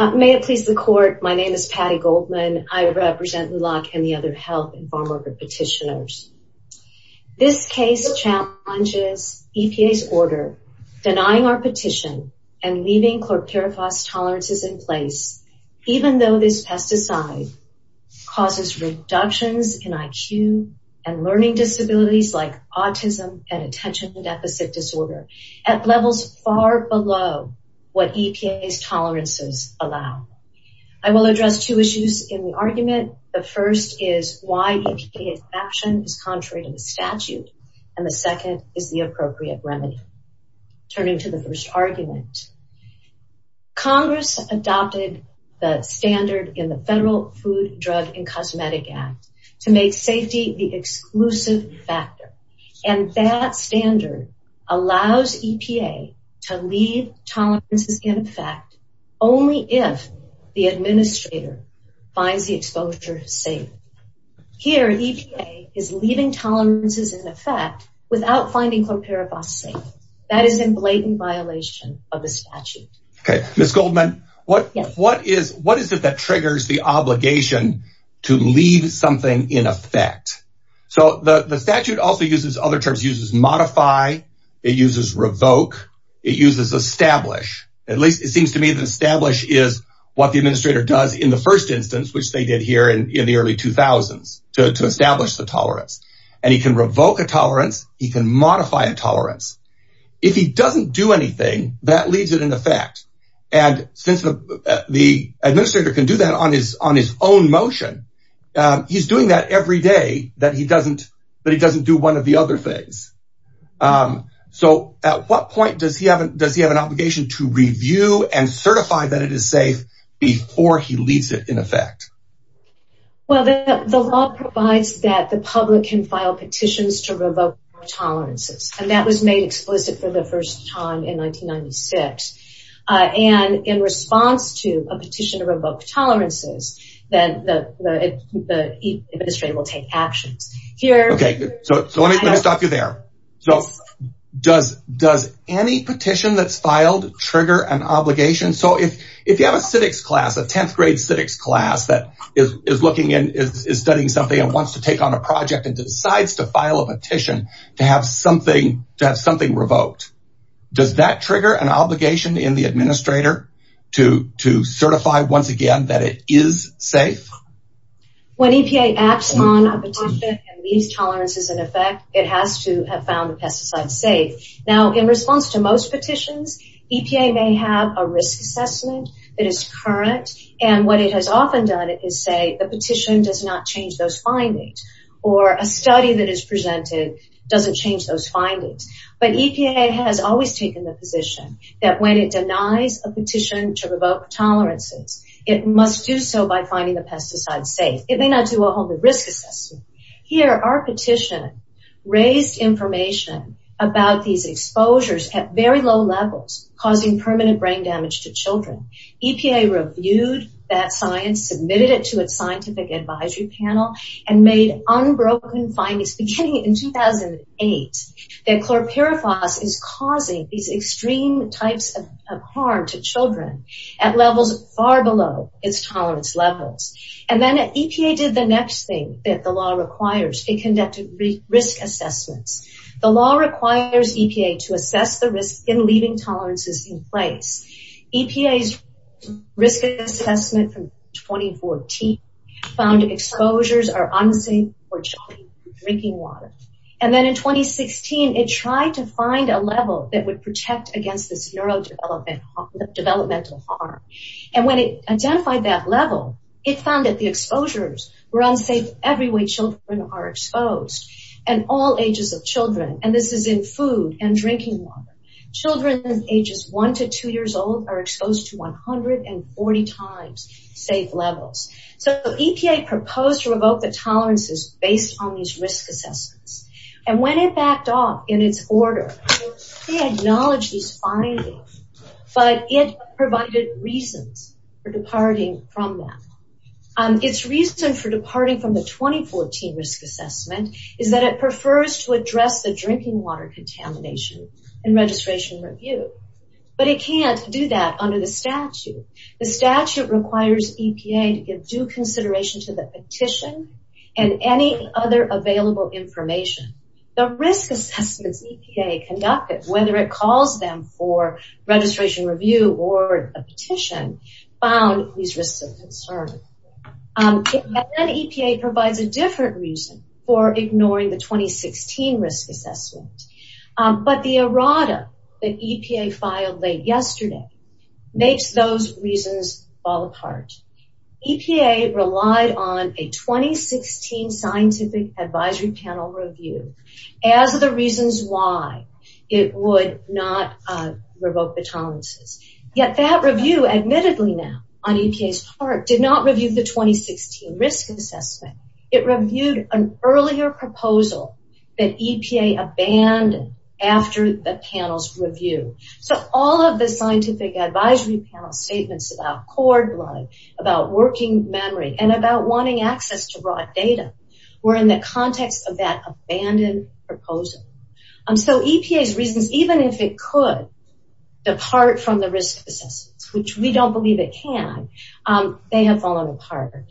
May it please the court, my name is Patty Goldman. I represent LULAC and the other health and farm worker petitioners. This case challenges EPA's order denying our petition and leaving chlorpyrifos tolerances in place even though this pesticide causes reductions in IQ and learning disabilities like autism and attention deficit disorder at levels far below what EPA's tolerances allow. I will address two issues in the argument. The first is why EPA's action is contrary to the statute and the second is the appropriate remedy. Turning to the first argument, Congress adopted the standard in the Federal Food, Drug, and Cosmetic Act to make safety the exclusive factor. And that standard allows EPA to leave tolerances in effect only if the administrator finds the exposure safe. Here, EPA is leaving tolerances in effect without finding chlorpyrifos safe. That is in blatant violation of the statute. Okay, Ms. Goldman, what is it that triggers the obligation to leave something in effect? So the statute also uses other terms, it uses modify, it uses revoke, it uses establish. At least it seems to me that establish is what the administrator does in the first instance, which they did here in the early 2000s to establish the tolerance. And he can revoke a tolerance, he can modify a tolerance. If he doesn't do anything, that leaves it in effect. And since the administrator can do that on his own motion, he's doing that every day that he doesn't do one of the other things. So at what point does he have an obligation to review and certify that it is safe before he leaves it in effect? Well, the law provides that the public can file petitions to revoke tolerances. And that was made explicit for the first time in 1996. And in response to a petition to revoke tolerances, then the administrator will take actions. Okay, so let me stop you there. So does any petition that's filed trigger an obligation? So if you have a civics class, a 10th grade civics class that is studying something and wants to take on a project and decides to file a petition to have something revoked, does that trigger an obligation in the administrator to certify once again that it is safe? When EPA acts on a petition and leaves tolerances in effect, it has to have found the pesticide safe. Now, in response to most petitions, EPA may have a risk assessment that is current. And what it has often done is say the petition does not change those findings. Or a study that is presented doesn't change those findings. But EPA has always taken the position that when it denies a petition to revoke tolerances, it must do so by finding the pesticide safe. It may not do a whole new risk assessment. Here, our petition raised information about these exposures at very low levels, causing permanent brain damage to children. EPA reviewed that science, submitted it to a scientific advisory panel, and made unbroken findings beginning in 2008 that chlorpyrifos is causing these extreme types of harm to children at levels far below its tolerance levels. And then EPA did the next thing that the law requires. It conducted risk assessments. The law requires EPA to assess the risk in leaving tolerances in place. EPA's risk assessment from 2014 found exposures are unsafe for children drinking water. And then in 2016, it tried to find a level that would protect against this neurodevelopmental harm. And when it identified that level, it found that the exposures were unsafe every way children are exposed, and all ages of children. And this is in food and drinking water. Children ages 1 to 2 years old are exposed to 140 times safe levels. So EPA proposed to revoke the tolerances based on these risk assessments. And when it backed off in its order, it acknowledged these findings, but it provided reasons for departing from them. Its reason for departing from the 2014 risk assessment is that it prefers to address the drinking water contamination in registration review. But it can't do that under the statute. The statute requires EPA to give due consideration to the petition and any other available information. The risk assessments EPA conducted, whether it calls them for registration review or a petition, found these risks of concern. And then EPA provides a different reason for ignoring the 2016 risk assessment. But the errata that EPA filed late yesterday makes those reasons fall apart. EPA relied on a 2016 scientific advisory panel review as the reasons why it would not revoke the tolerances. Yet that review, admittedly now, on EPA's part, did not review the 2016 risk assessment. It reviewed an earlier proposal that EPA abandoned after the panel's review. So all of the scientific advisory panel statements about cord blood, about working memory, and about wanting access to raw data were in the context of that abandoned proposal. So EPA's reasons, even if it could depart from the risk assessments, which we don't believe it can, they have fallen apart.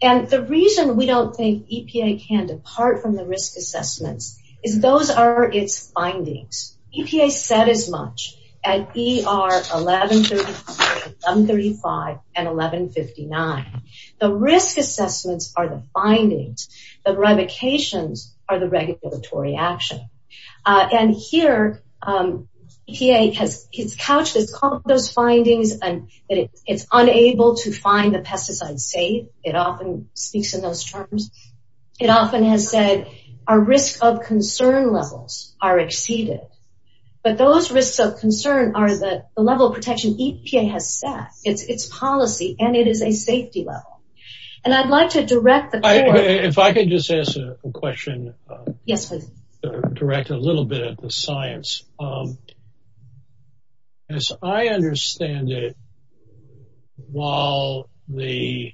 And the reason we don't think EPA can depart from the risk assessments is those are its findings. EPA said as much at ER 1134, 1135, and 1159. The risk assessments are the findings. The revocations are the regulatory action. And here EPA has couched those findings and it's unable to find the pesticide safe. It often speaks in those terms. It often has said our risk of concern levels are exceeded. But those risks of concern are the level of protection EPA has set. It's policy and it is a safety level. And I'd like to direct the court. If I could just ask a question. Yes, please. Direct a little bit of the science. As I understand it, while the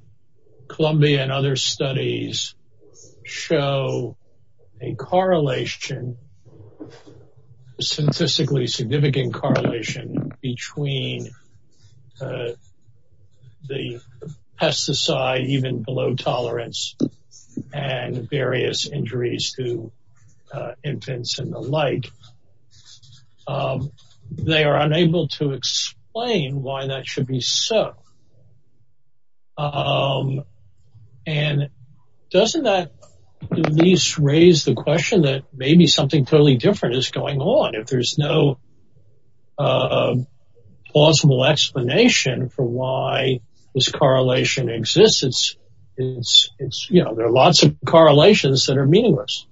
Columbia and other studies show a correlation, a statistically significant correlation between the pesticide, even below tolerance, and various injuries to infants and the like, they are unable to explain why that should be so. And doesn't that at least raise the question that maybe something totally different is going on? If there's no plausible explanation for why this correlation exists, it's, you know, there are lots of correlations that are meaningless.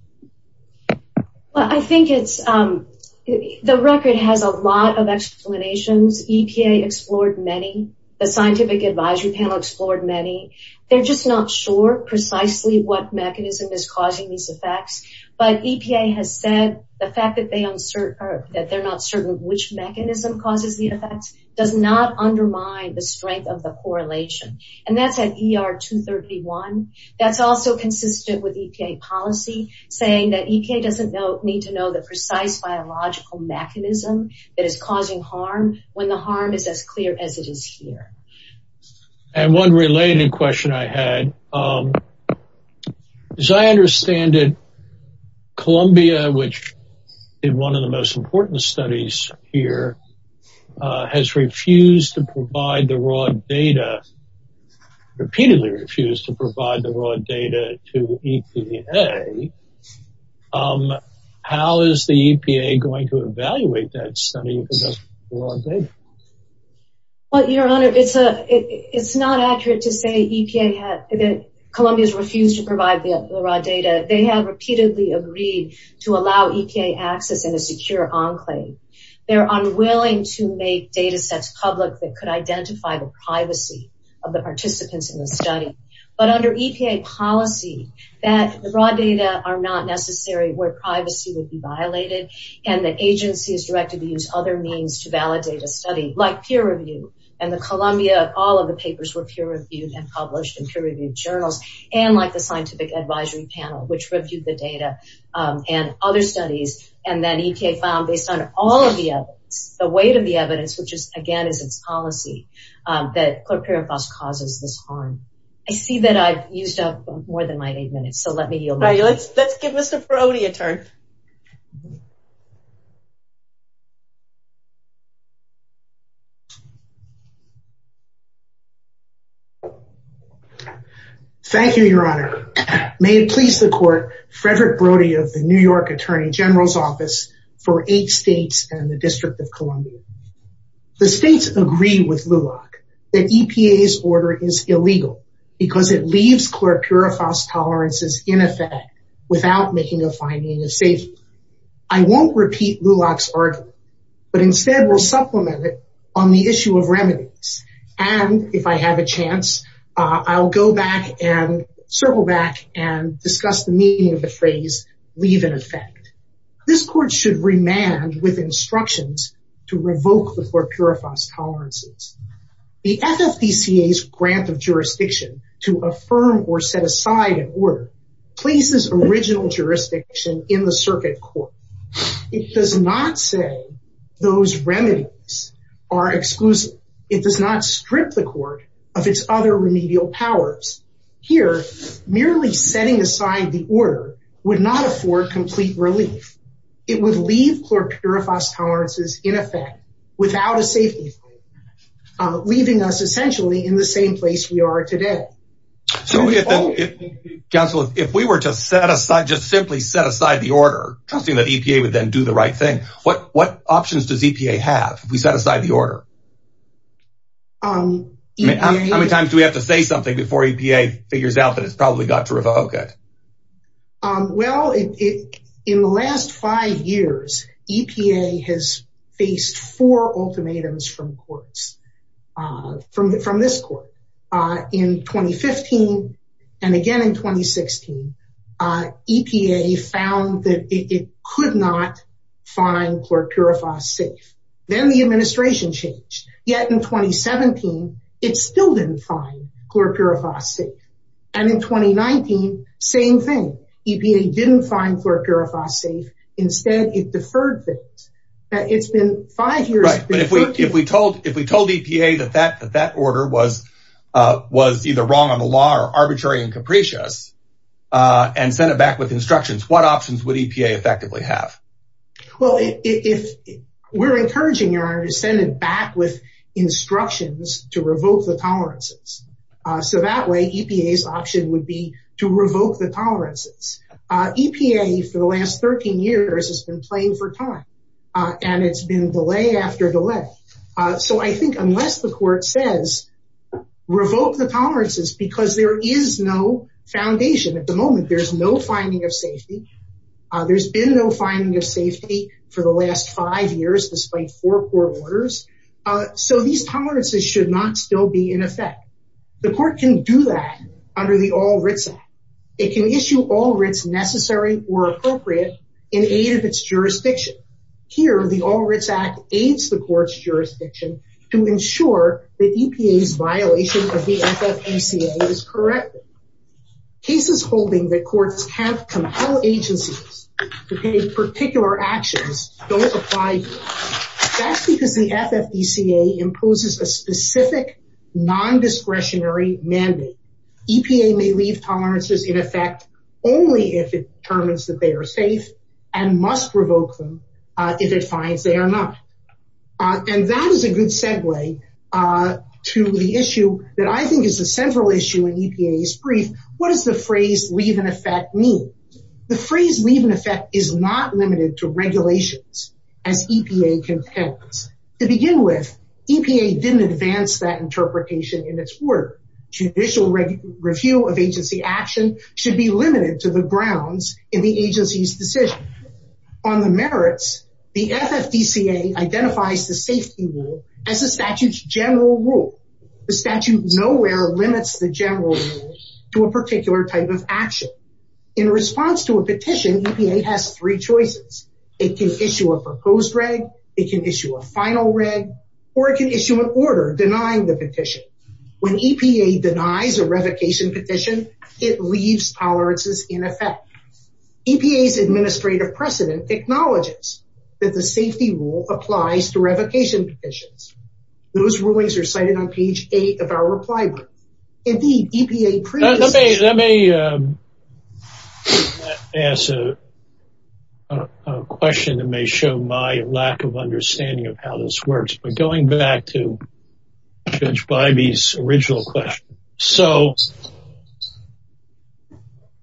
Well, I think it's, the record has a lot of explanations. EPA explored many. The scientific advisory panel explored many. They're just not sure precisely what mechanism is causing these effects. But EPA has said the fact that they're not certain which mechanism causes the effects does not undermine the strength of the correlation. And that's at ER 231. That's also consistent with EPA policy, saying that EPA doesn't need to know the precise biological mechanism that is causing harm when the harm is as clear as it is here. And one related question I had. As I understand it, Columbia, which did one of the most important studies here, has refused to provide the raw data, repeatedly refused to provide the raw data to EPA. How is the EPA going to evaluate that study? Well, Your Honor, it's not accurate to say that Columbia has refused to provide the raw data. They have repeatedly agreed to allow EPA access in a secure enclave. They're unwilling to make data sets public that could identify the privacy of the participants in the study. But under EPA policy, the raw data are not necessary where privacy would be violated, and the agency is directed to use other means to validate a study, like peer review. And the Columbia, all of the papers were peer reviewed and published in peer reviewed journals, and like the scientific advisory panel, which reviewed the data and other studies. And then EPA found, based on all of the evidence, the weight of the evidence, which is, again, is its policy, that chlorpyrifos causes this harm. I see that I've used up more than my eight minutes, so let me yield. All right, let's give Mr. Brody a turn. Thank you, Your Honor. May it please the court, Frederick Brody of the New York Attorney General's Office for eight states and the District of Columbia. The states agree with LULAC that EPA's order is illegal because it leaves chlorpyrifos tolerances in effect without making a finding of safety. I won't repeat LULAC's argument, but instead will supplement it on the issue of remedies. And if I have a chance, I'll go back and circle back and discuss the meaning of the phrase, leave in effect. This court should remand with instructions to revoke the chlorpyrifos tolerances. The FFPCA's grant of jurisdiction to affirm or set aside an order places original jurisdiction in the circuit court. It does not say those remedies are exclusive. It does not strip the court of its other remedial powers. Here, merely setting aside the order would not afford complete relief. It would leave chlorpyrifos tolerances in effect without a safety, leaving us essentially in the same place we are today. Counsel, if we were to set aside, just simply set aside the order, trusting that EPA would then do the right thing, what options does EPA have if we set aside the order? How many times do we have to say something before EPA figures out that it's probably got to revoke it? Well, in the last five years, EPA has faced four ultimatums from courts, from this court. In 2015 and again in 2016, EPA found that it could not find chlorpyrifos safe. Then the administration changed. Yet in 2017, it still didn't find chlorpyrifos safe. And in 2019, same thing. EPA didn't find chlorpyrifos safe. Instead, it deferred things. It's been five years. Right. But if we told EPA that that order was either wrong on the law or arbitrary and capricious and sent it back with instructions, what options would EPA effectively have? Well, we're encouraging your honor to send it back with instructions to revoke the tolerances. So that way, EPA's option would be to revoke the tolerances. EPA, for the last 13 years, has been playing for time. And it's been delay after delay. So I think unless the court says revoke the tolerances because there is no foundation at the moment, there's no finding of safety. There's been no finding of safety for the last five years despite four court orders. So these tolerances should not still be in effect. The court can do that under the All Writs Act. It can issue all writs necessary or appropriate in aid of its jurisdiction. Here, the All Writs Act aids the court's jurisdiction to ensure that EPA's violation of the FFACA is corrected. Cases holding that courts have compelled agencies to take particular actions don't apply here. That's because the FFACA imposes a specific non-discretionary mandate. EPA may leave tolerances in effect only if it determines that they are safe and must revoke them if it finds they are not. And that is a good segue to the issue that I think is a central issue in EPA's brief. What does the phrase leave in effect mean? The phrase leave in effect is not limited to regulations as EPA contends. To begin with, EPA didn't advance that interpretation in its work. Judicial review of agency action should be limited to the grounds in the agency's decision. On the merits, the FFDCA identifies the safety rule as the statute's general rule. The statute nowhere limits the general rule to a particular type of action. In response to a petition, EPA has three choices. It can issue a proposed reg, it can issue a final reg, or it can issue an order denying the petition. When EPA denies a revocation petition, it leaves tolerances in effect. EPA's administrative precedent acknowledges that the safety rule applies to revocation petitions. Those rulings are cited on page 8 of our reply book. Let me ask a question that may show my lack of understanding of how this works. But going back to Judge Bybee's original question. So,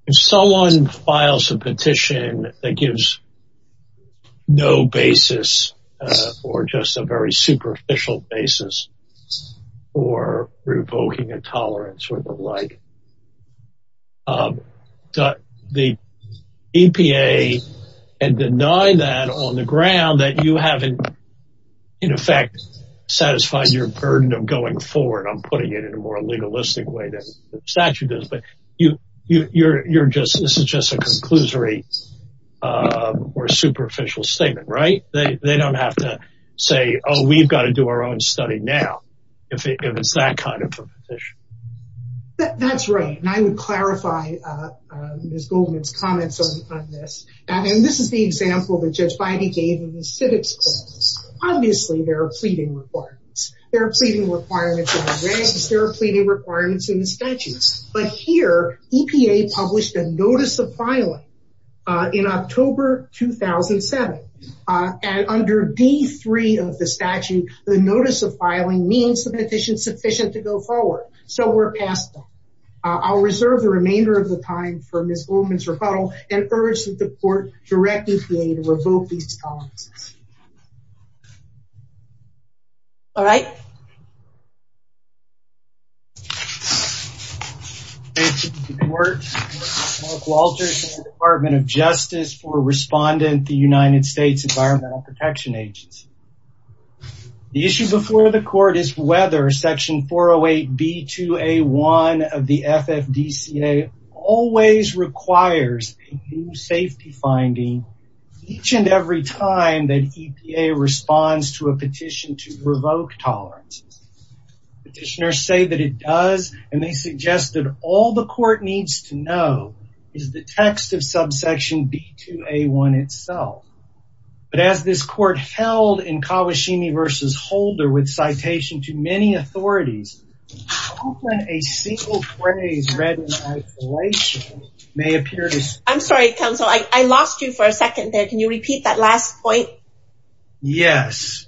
if someone files a petition that gives no basis or just a very superficial basis for revoking a tolerance or the like, the EPA and denying that on the ground that you have in effect satisfied your burden of going forward, I'm putting it in a more legalistic way than the statute does, but this is just a conclusory or superficial statement, right? They don't have to say, oh, we've got to do our own study now, if it's that kind of a petition. That's right, and I would clarify Ms. Goldman's comments on this. And this is the example that Judge Bybee gave in the civics class. Obviously, there are pleading requirements. There are pleading requirements in the regs. There are pleading requirements in the statutes. But here, EPA published a notice of filing in October 2007. And under D3 of the statute, the notice of filing means the petition is sufficient to go forward. So, we're past that. I'll reserve the remainder of the time for Ms. Goldman's rebuttal and urge that the court direct EPA to revoke these tolerances. All right. Thank you. Thank you to the court, Mark Walters and the Department of Justice for responding to the United States Environmental Protection Agency. The issue before the court is whether Section 408B2A1 of the FFDCA always requires a new safety finding each and every time that EPA responds to a petition to revoke tolerance. Petitioners say that it does, and they suggest that all the court needs to know is the text of Subsection B2A1 itself. But as this court held in Kawashimi v. Holder with citation to many authorities, often a single phrase read in isolation may appear to... I'm sorry, counsel. I lost you for a second there. Can you repeat that last point? Yes.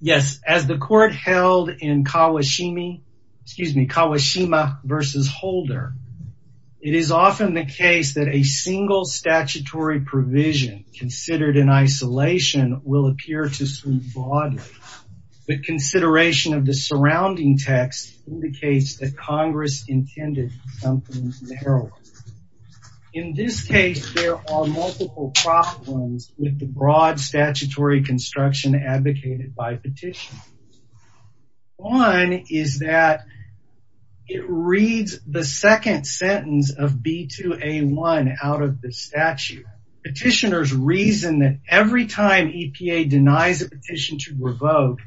Yes, as the court held in Kawashimi, excuse me, Kawashima v. Holder, it is often the case that a single statutory provision considered in isolation will appear to... The consideration of the surrounding text indicates that Congress intended something narrow. In this case, there are multiple problems with the broad statutory construction advocated by petitioners. One is that it reads the second sentence of B2A1 out of the statute. Petitioners reason that every time EPA denies a petition to revoke,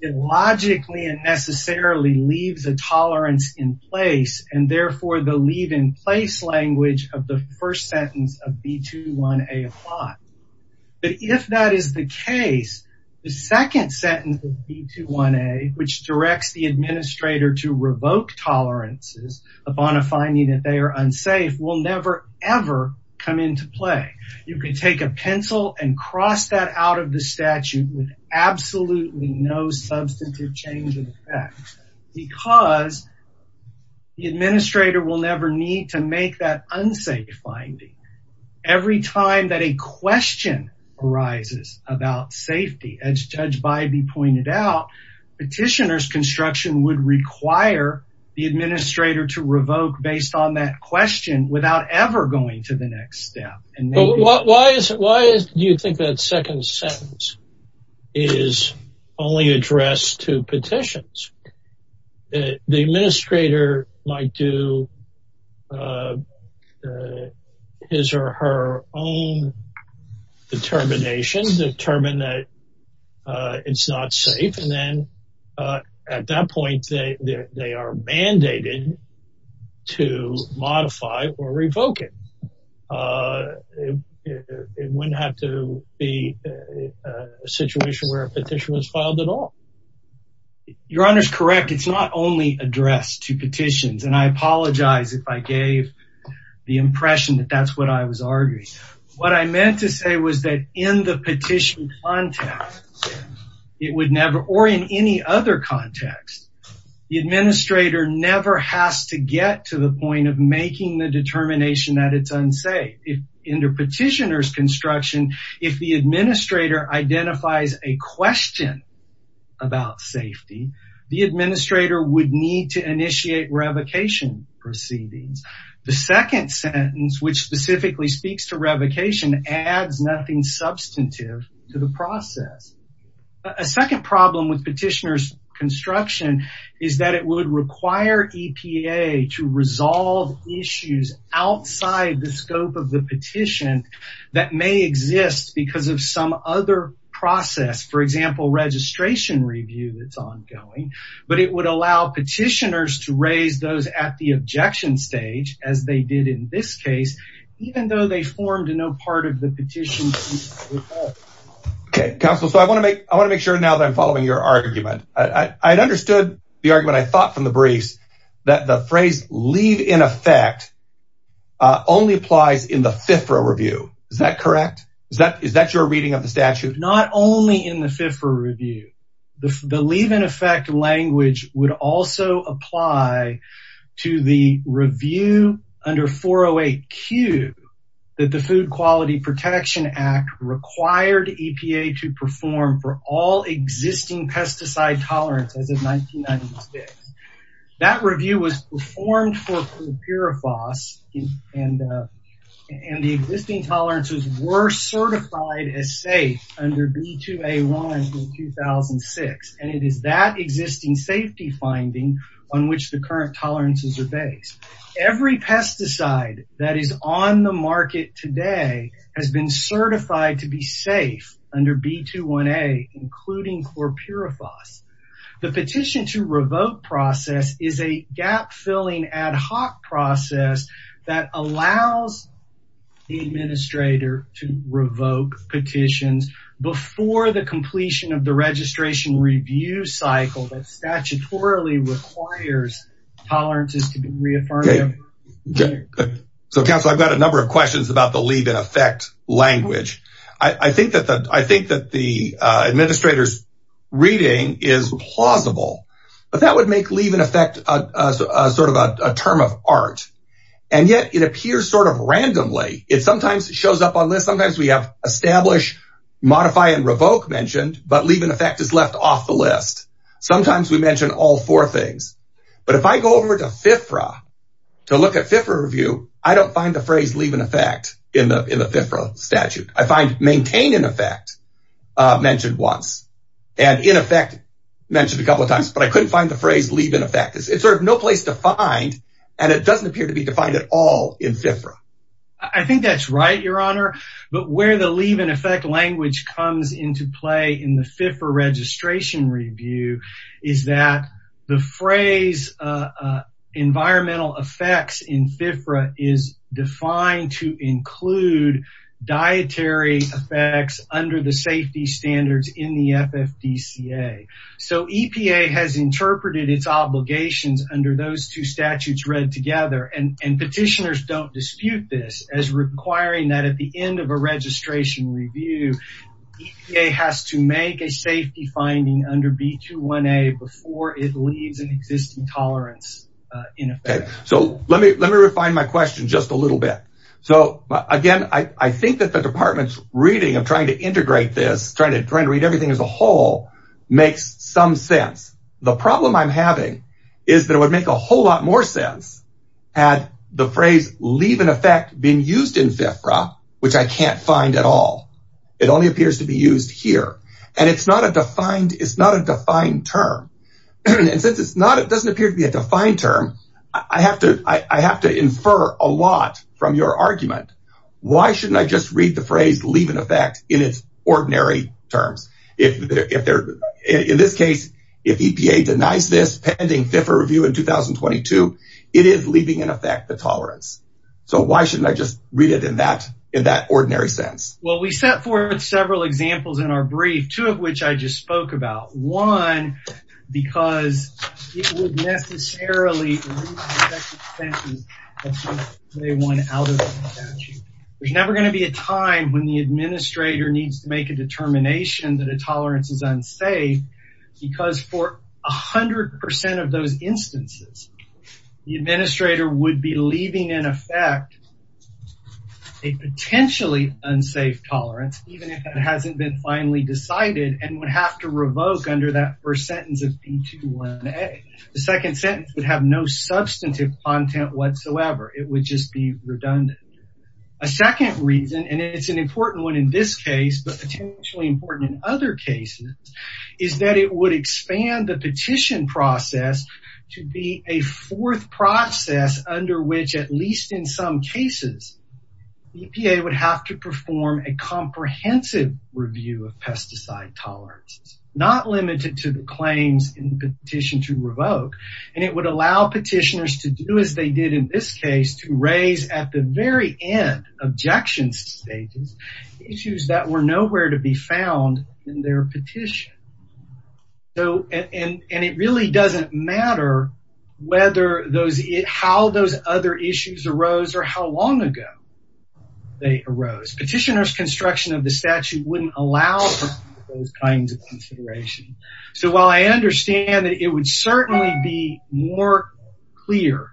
it logically and necessarily leaves a tolerance in place, and therefore the leave-in-place language of the first sentence of B2A1 applies. But if that is the case, the second sentence of B2A1, which directs the administrator to revoke tolerances upon a finding that they are unsafe, will never ever come into play. You can take a pencil and cross that out of the statute with absolutely no substantive change in effect because the administrator will never need to make that unsafe finding. Every time that a question arises about safety, as Judge Bybee pointed out, petitioners' construction would require the administrator to revoke based on that question without ever going to the next step. Why do you think that second sentence is only addressed to petitions? The administrator might do his or her own determination to determine that it's not safe, and then at that point they are mandated to modify or revoke it. It wouldn't have to be a situation where a petition was filed at all. Your Honor is correct. It's not only addressed to petitions, and I apologize if I gave the impression that that's what I was arguing. What I meant to say was that in the petition context, or in any other context, the administrator never has to get to the point of making the determination that it's unsafe. Under petitioner's construction, if the administrator identifies a question about safety, the administrator would need to initiate revocation proceedings. The second sentence, which specifically speaks to revocation, adds nothing substantive to the process. A second problem with petitioner's construction is that it would require EPA to resolve issues outside the scope of the petition that may exist because of some other process. For example, registration review that's ongoing. But it would allow petitioners to raise those at the objection stage, as they did in this case, even though they formed no part of the petition. Counsel, I want to make sure now that I'm following your argument. I understood the argument I thought from the briefs, that the phrase, leave in effect, only applies in the FIFRA review. Is that correct? Is that your reading of the statute? Not only in the FIFRA review. The leave in effect language would also apply to the review under 408Q that the Food Quality Protection Act required EPA to perform for all existing pesticide tolerances of 1996. That review was performed for chlorpyrifos, and the existing tolerances were certified as safe under B2A1 in 2006. And it is that existing safety finding on which the current tolerances are based. Every pesticide that is on the market today has been certified to be safe under B2A1, including chlorpyrifos. The petition to revoke process is a gap-filling ad hoc process that allows the administrator to revoke petitions before the completion of the registration review cycle that statutorily requires tolerances to be reaffirmed. So, Counsel, I've got a number of questions about the leave in effect language. I think that the administrator's reading is plausible, but that would make leave in effect sort of a term of art. And yet, it appears sort of randomly. It sometimes shows up on lists. Sometimes we have establish, modify, and revoke mentioned, but leave in effect is left off the list. Sometimes we mention all four things. But if I go over to FIFRA to look at FIFRA review, I don't find the phrase leave in effect in the FIFRA statute. I find maintain in effect mentioned once, and in effect mentioned a couple of times, but I couldn't find the phrase leave in effect. It's sort of no place to find, and it doesn't appear to be defined at all in FIFRA. I think that's right, Your Honor. But where the leave in effect language comes into play in the FIFRA registration review is that the phrase environmental effects in FIFRA is defined to include dietary effects under the safety standards in the FFDCA. So EPA has interpreted its obligations under those two statutes read together, and petitioners don't dispute this as requiring that at the end of a registration review, EPA has to make a safety finding under B21A before it leaves an existing tolerance in effect. So let me refine my question just a little bit. So again, I think that the department's reading of trying to integrate this, trying to read everything as a whole, makes some sense. The problem I'm having is that it would make a whole lot more sense had the phrase leave in effect been used in FIFRA, which I can't find at all. It only appears to be used here, and it's not a defined term. And since it doesn't appear to be a defined term, I have to infer a lot from your argument. Why shouldn't I just read the phrase leave in effect in its ordinary terms? In this case, if EPA denies this pending FIFRA review in 2022, it is leaving in effect the tolerance. So why shouldn't I just read it in that ordinary sense? Well, we set forth several examples in our brief, two of which I just spoke about. One, because it would necessarily remove the second sentence of B21 out of the statute. There's never going to be a time when the administrator needs to make a determination that a tolerance is unsafe, because for 100% of those instances, the administrator would be leaving in effect a potentially unsafe tolerance, even if it hasn't been finally decided and would have to revoke under that first sentence of B21A. The second sentence would have no substantive content whatsoever. It would just be redundant. A second reason, and it's an important one in this case, but potentially important in other cases, is that it would expand the petition process to be a fourth process under which, at least in some cases, EPA would have to perform a comprehensive review of pesticide tolerances, not limited to the claims in the petition to revoke, and it would allow petitioners to do as they did in this case to raise at the very end, objection stages, issues that were nowhere to be found in their petition. And it really doesn't matter how those other issues arose or how long ago they arose. Petitioner's construction of the statute wouldn't allow for those kinds of considerations. So while I understand that it would certainly be more clear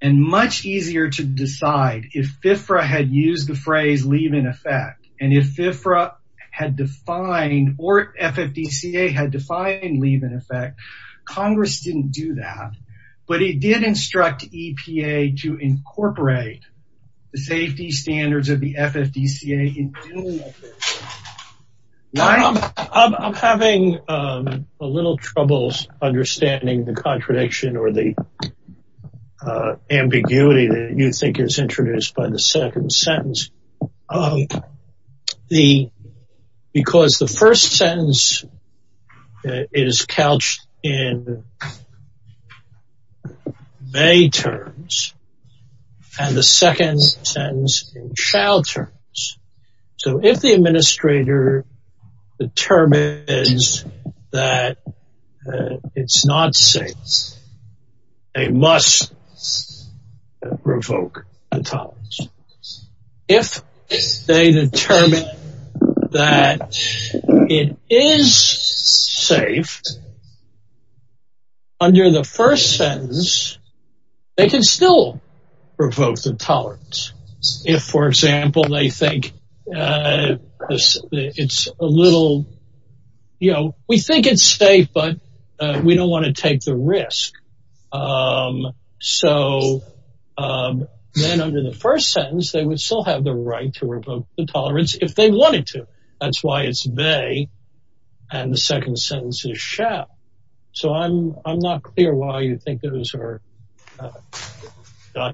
and much easier to decide if FFRA had used the phrase, leave in effect, and if FFRA had defined or FFDCA had defined leave in effect, Congress didn't do that. But it did instruct EPA to incorporate the safety standards of the FFDCA in doing that. I'm having a little trouble understanding the contradiction or the ambiguity that you think is introduced by the second sentence. Because the first sentence is couched in may terms, and the second sentence in shall terms. So if the administrator determines that it's not safe, they must revoke the tolerance. If they determine that it is safe, under the first sentence, they can still revoke the tolerance. If, for example, they think it's a little, you know, we think it's safe, but we don't want to take the risk. So then under the first sentence, they would still have the right to revoke the tolerance if they wanted to. That's why it's may, and the second sentence is shall. So I'm not clear why you think those are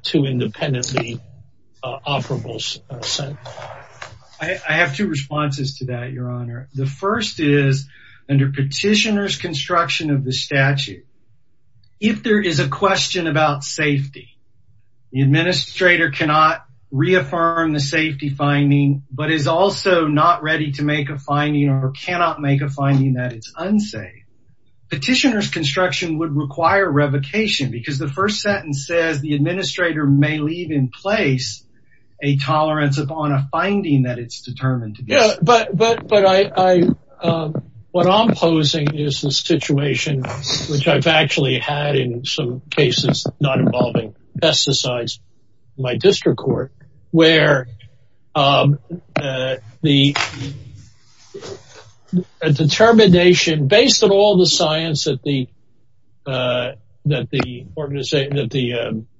two independently operable sentences. I have two responses to that, Your Honor. The first is, under petitioner's construction of the statute, if there is a question about safety, the administrator cannot reaffirm the safety finding, but is also not ready to make a finding or cannot make a finding that it's unsafe. Petitioner's construction would require revocation because the first sentence says the administrator may leave in place a tolerance upon a finding that it's determined to be safe. But what I'm posing is the situation which I've actually had in some cases not involving pesticides in my district court, where the determination based on all the science that the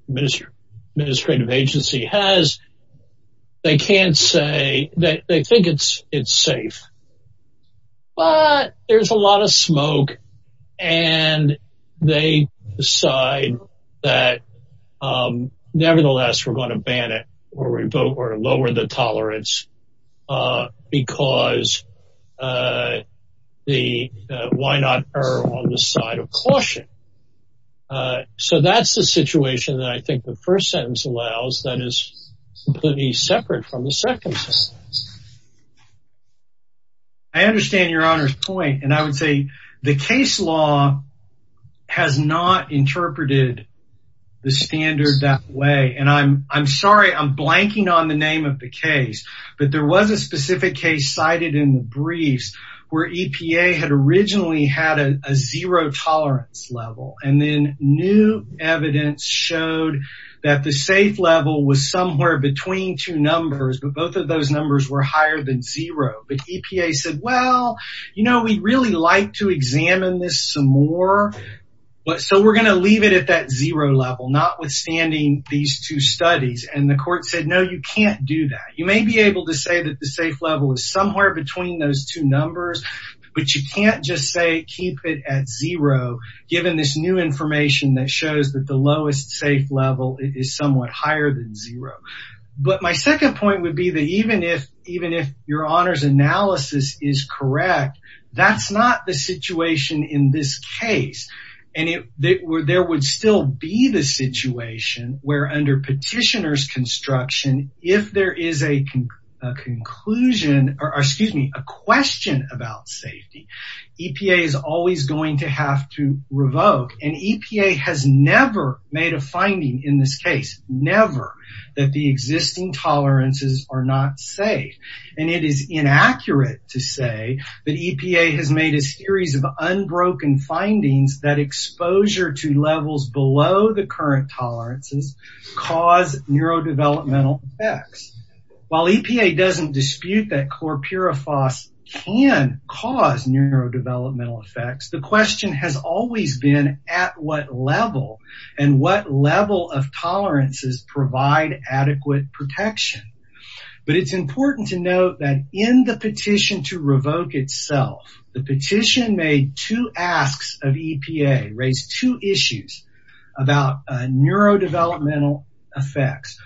administrative agency has, they can't say that they think it's safe, but there's a lot of smoke, and they decide that nevertheless, we're going to ban it or lower the tolerance because the why not err on the side of caution. So that's the situation that I think the first sentence allows that is completely separate from the second sentence. I understand Your Honor's point, and I would say the case law has not interpreted the standard that way. And I'm sorry, I'm blanking on the name of the case, but there was a specific case cited in the briefs where EPA had originally had a zero tolerance level, and then new evidence showed that the safe level was somewhere between two numbers, but both of those numbers were higher than zero. But EPA said, well, you know, we'd really like to examine this some more, so we're going to leave it at that zero level, notwithstanding these two studies. And the court said, no, you can't do that. You may be able to say that the safe level is somewhere between those two numbers, but you can't just say keep it at zero, given this new information that shows that the lowest safe level is somewhat higher than zero. But my second point would be that even if Your Honor's analysis is correct, that's not the situation in this case. And there would still be the situation where under petitioner's construction, if there is a conclusion, or excuse me, a question about safety, EPA is always going to have to revoke. And EPA has never made a finding in this case, never, that the existing tolerances are not safe. And it is inaccurate to say that EPA has made a series of unbroken findings that exposure to levels below the current tolerances cause neurodevelopmental effects. While EPA doesn't dispute that chlorpyrifos can cause neurodevelopmental effects, the question has always been at what level, and what level of tolerances provide adequate protection. But it's important to note that in the petition to revoke itself, the petition made two asks of EPA, raised two issues about neurodevelopmental effects.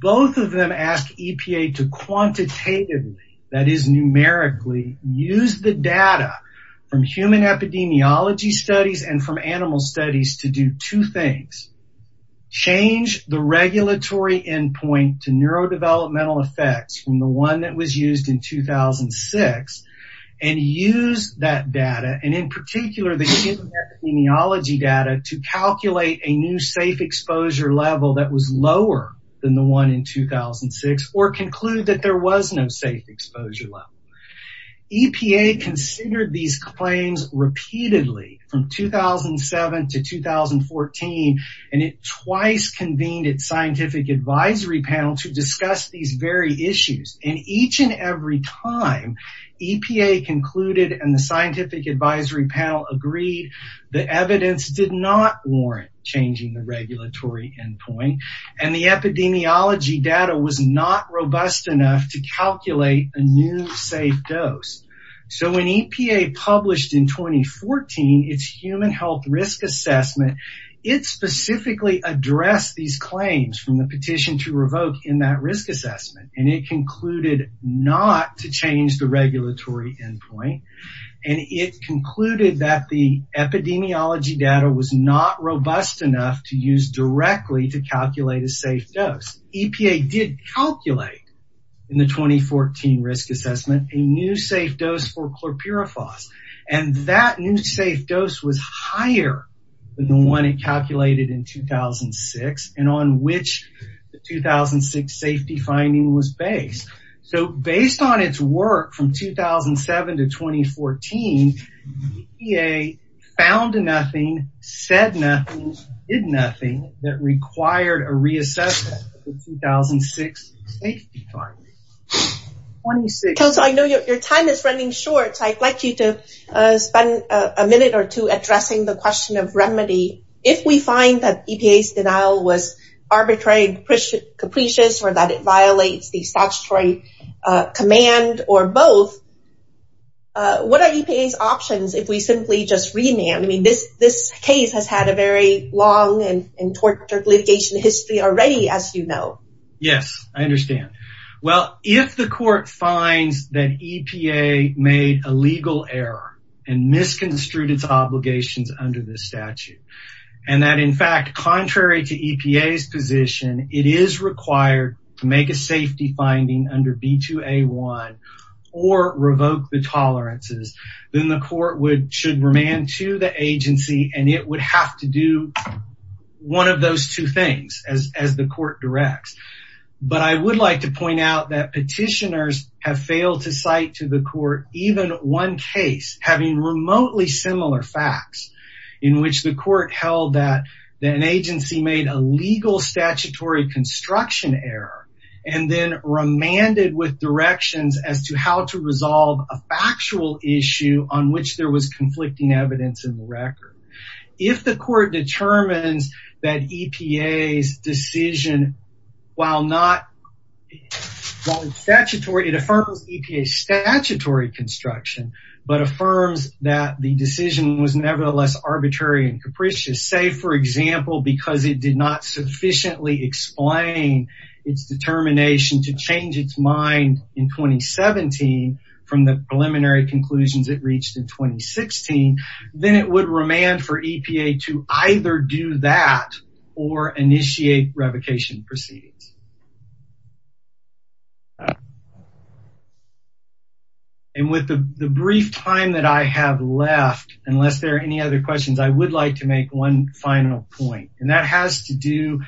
Both of them ask EPA to quantitatively, that is numerically, use the data from human epidemiology studies and from animal studies to do two things. Change the regulatory endpoint to neurodevelopmental effects from the one that was used in 2006, and use that data, and in particular the human epidemiology data, to calculate a new safe exposure level that was lower than the one in 2006, or conclude that there was no safe exposure level. EPA considered these claims repeatedly from 2007 to 2014, and it twice convened its scientific advisory panel to discuss these very issues. And each and every time, EPA concluded and the scientific advisory panel agreed that evidence did not warrant changing the regulatory endpoint, and the epidemiology data was not robust enough to calculate a new safe dose. So when EPA published in 2014 its human health risk assessment, it specifically addressed these claims from the petition to revoke in that risk assessment. And it concluded not to change the regulatory endpoint, and it concluded that the epidemiology data was not robust enough to use directly to calculate a safe dose. EPA did calculate in the 2014 risk assessment a new safe dose for chlorpyrifos, and that new safe dose was higher than the one it calculated in 2006, and on which the 2006 safety finding was based. So based on its work from 2007 to 2014, EPA found nothing, said nothing, did nothing that required a reassessment of the 2006 safety finding. Council, I know your time is running short, so I'd like you to spend a minute or two addressing the question of remedy. If we find that EPA's denial was arbitrary and capricious, or that it violates the statutory command, or both, what are EPA's options if we simply just remand? I mean, this case has had a very long and tortured litigation history already, as you know. Yes, I understand. Well, if the court finds that EPA made a legal error and misconstrued its obligations under this statute, and that, in fact, contrary to EPA's position, it is required to make a safety finding under B2A1 or revoke the tolerances, then the court should remand to the agency, and it would have to do one of those two things, as the court directs. But I would like to point out that petitioners have failed to cite to the court even one case having remotely similar facts, in which the court held that an agency made a legal statutory construction error, and then remanded with directions as to how to resolve a factual issue on which there was conflicting evidence in the record. If the court determines that EPA's decision, while it affirms EPA's statutory construction, but affirms that the decision was nevertheless arbitrary and capricious, say, for example, because it did not sufficiently explain its determination to change its mind in 2017 from the preliminary conclusions it reached in 2016, then it would remand for EPA to either do that or initiate revocation proceedings. And with the brief time that I have left, unless there are any other questions, I would like to make one final point, and that has to do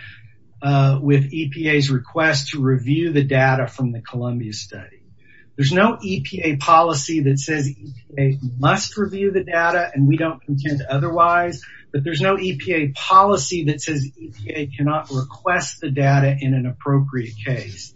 with EPA's request to review the data from the Columbia study. There's no EPA policy that says EPA must review the data and we don't contend otherwise, but there's no EPA policy that says EPA cannot request the data in an appropriate case.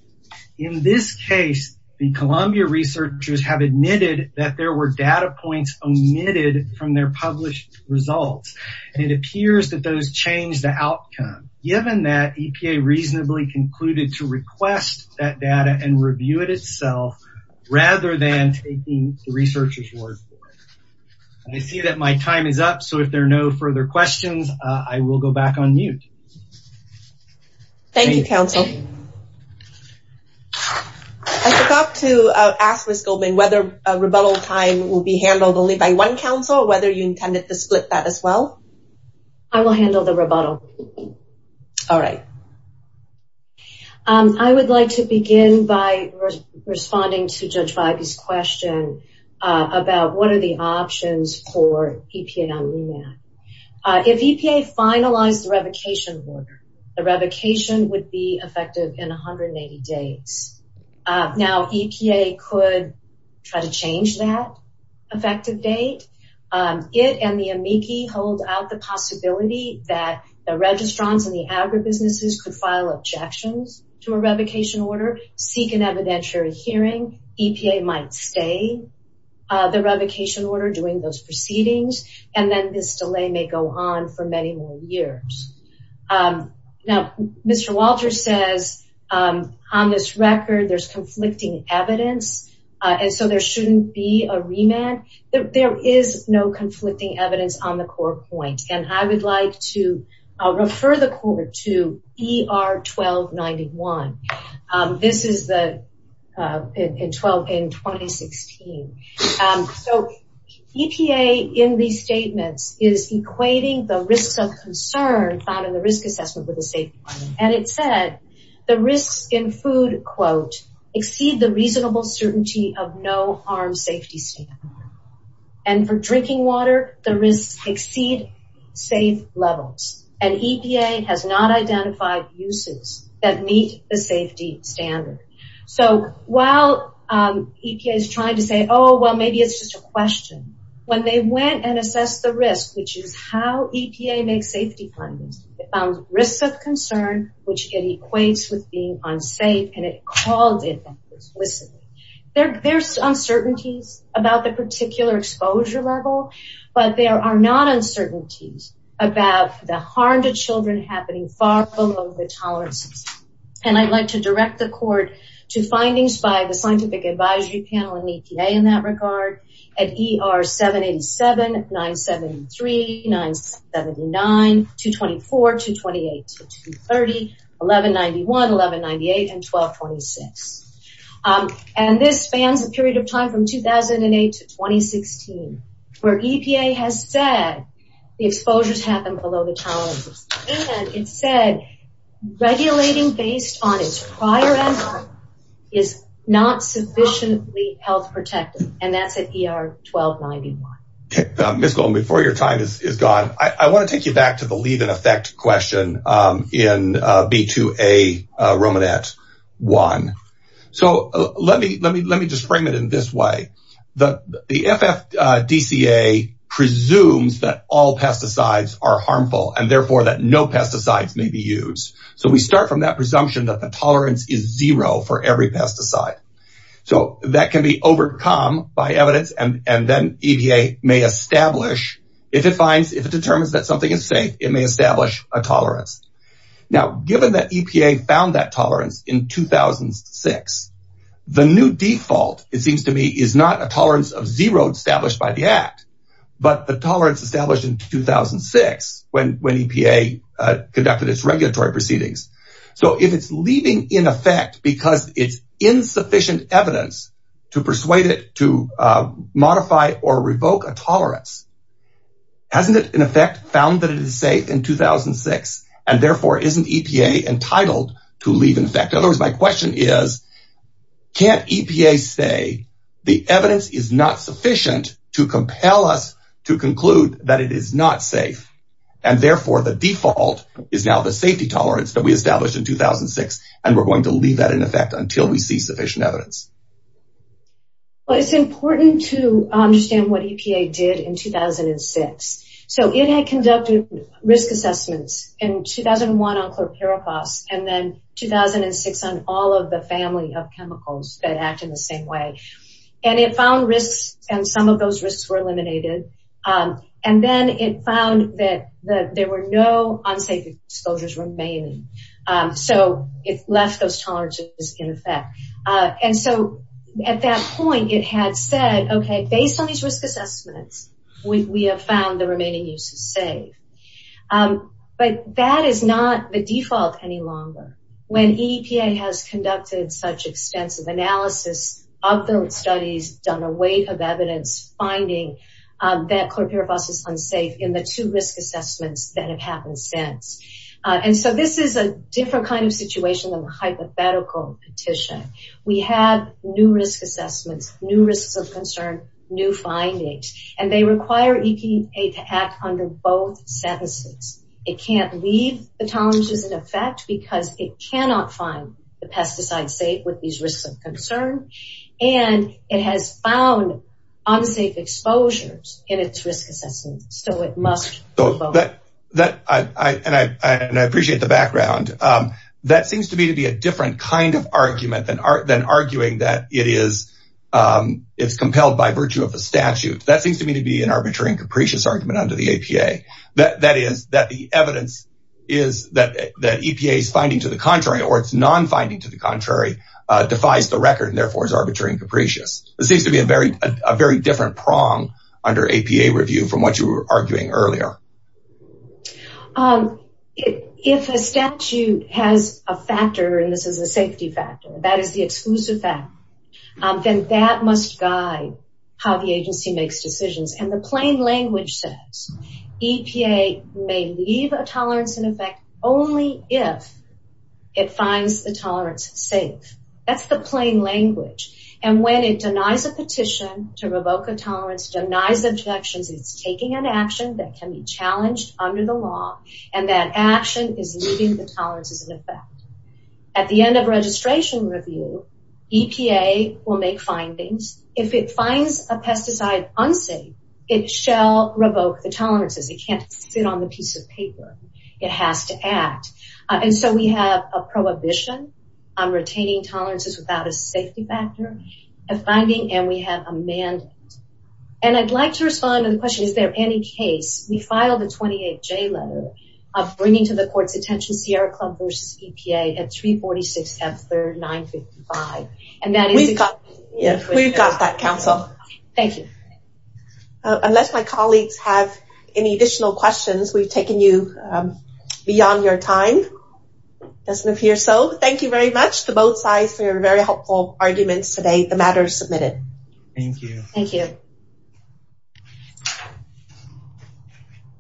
In this case, the Columbia researchers have admitted that there were data points omitted from their published results, and it appears that those changed the outcome. Given that, EPA reasonably concluded to request that data and review it itself rather than taking the researcher's word for it. I see that my time is up, so if there are no further questions, I will go back on mute. Thank you, counsel. I forgot to ask Ms. Goldman whether rebuttal time will be handled only by one counsel or whether you intended to split that as well. I will handle the rebuttal. All right. I would like to begin by responding to Judge Bybee's question about what are the options for EPA on remand. If EPA finalized the revocation order, the revocation would be effective in 180 days. Now, EPA could try to change that effective date. It and the amici hold out the possibility that the registrants and the agribusinesses could file objections to a revocation order, seek an evidentiary hearing. EPA might stay the revocation order during those proceedings, and then this delay may go on for many more years. Now, Mr. Walter says on this record there's conflicting evidence, and so there shouldn't be a remand. There is no conflicting evidence on the core point, and I would like to refer the court to ER 1291. This is in 2016. So EPA in these statements is equating the risks of concern found in the risk assessment with the safety requirement, and it said the risks in food, quote, exceed the reasonable certainty of no harm safety standard, and for drinking water, the risks exceed safe levels, and EPA has not identified uses that meet the safety standard. So while EPA is trying to say, oh, well, maybe it's just a question, when they went and assessed the risk, which is how EPA makes safety plans, it found risks of concern, which it equates with being unsafe, and it called it explicitly. There's uncertainties about the particular exposure level, but there are not uncertainties about the harm to children happening far below the tolerance. And I'd like to direct the court to findings by the scientific advisory panel and EPA in that regard at ER 787, 973, 979, 224, 228, 230, 1191, 1198, and 1226. And this spans a period of time from 2008 to 2016, where EPA has said the exposures happen below the tolerance, and it said regulating based on its prior effort is not sufficiently health protective, and that's at ER 1291. Ms. Golden, before your time is gone, I want to take you back to the leave in effect question in B2A, Romanette 1. So let me just frame it in this way. The FFDCA presumes that all pesticides are harmful, and therefore that no pesticides may be used. So we start from that presumption that the tolerance is zero for every pesticide. So that can be overcome by evidence, and then EPA may establish, if it finds, if it determines that something is safe, it may establish a tolerance. Now, given that EPA found that tolerance in 2006, the new default, it seems to me, is not a tolerance of zero established by the Act, but the tolerance established in 2006 when EPA conducted its regulatory proceedings. So if it's leaving in effect because it's insufficient evidence to persuade it to modify or revoke a tolerance, hasn't it, in effect, found that it is safe in 2006, and therefore isn't EPA entitled to leave in effect? In other words, my question is, can't EPA say the evidence is not sufficient to compel us to conclude that it is not safe, and therefore the default is now the safety tolerance that we established in 2006, and we're going to leave that in effect until we see sufficient evidence? Well, it's important to understand what EPA did in 2006. So it had conducted risk assessments in 2001 on chlorpyrifos, and then 2006 on all of the family of chemicals that act in the same way. And it found risks, and some of those risks were eliminated. And then it found that there were no unsafe exposures remaining. So it left those tolerances in effect. And so at that point, it had said, okay, based on these risk assessments, we have found the remaining uses safe. But that is not the default any longer. When EPA has conducted such extensive analysis of those studies, done a weight of evidence, finding that chlorpyrifos is unsafe in the two risk assessments that have happened since. And so this is a different kind of situation than a hypothetical petition. We have new risk assessments, new risks of concern, new findings. And they require EPA to act under both sentences. It can't leave the tolerances in effect because it cannot find the pesticides safe with these risks of concern. And it has found unsafe exposures in its risk assessments, so it must vote. And I appreciate the background. That seems to me to be a different kind of argument than arguing that it's compelled by virtue of a statute. That seems to me to be an arbitrary and capricious argument under the APA. That is, that the evidence is that EPA's finding to the contrary, or its non-finding to the contrary, defies the record, and therefore is arbitrary and capricious. It seems to be a very different prong under APA review from what you were arguing earlier. If a statute has a factor, and this is a safety factor, that is the exclusive factor, then that must guide how the agency makes decisions. And the plain language says EPA may leave a tolerance in effect only if it finds the tolerance safe. That's the plain language. And when it denies a petition to revoke a tolerance, denies objections, it's taking an action that can be challenged under the law, and that action is leaving the tolerances in effect. At the end of registration review, EPA will make findings. If it finds a pesticide unsafe, it shall revoke the tolerances. It can't sit on the piece of paper. It has to act. And so we have a prohibition on retaining tolerances without a safety factor, a finding, and we have a mandate. And I'd like to respond to the question, is there any case, we filed a 28-J letter of bringing to the court's attention Sierra Club versus EPA at 346-739-55. And that is... We've got that, counsel. Thank you. Unless my colleagues have any additional questions, we've taken you beyond your time. Let's move here. So thank you very much to both sides for your very helpful arguments today. The matter is submitted. Thank you. Thank you.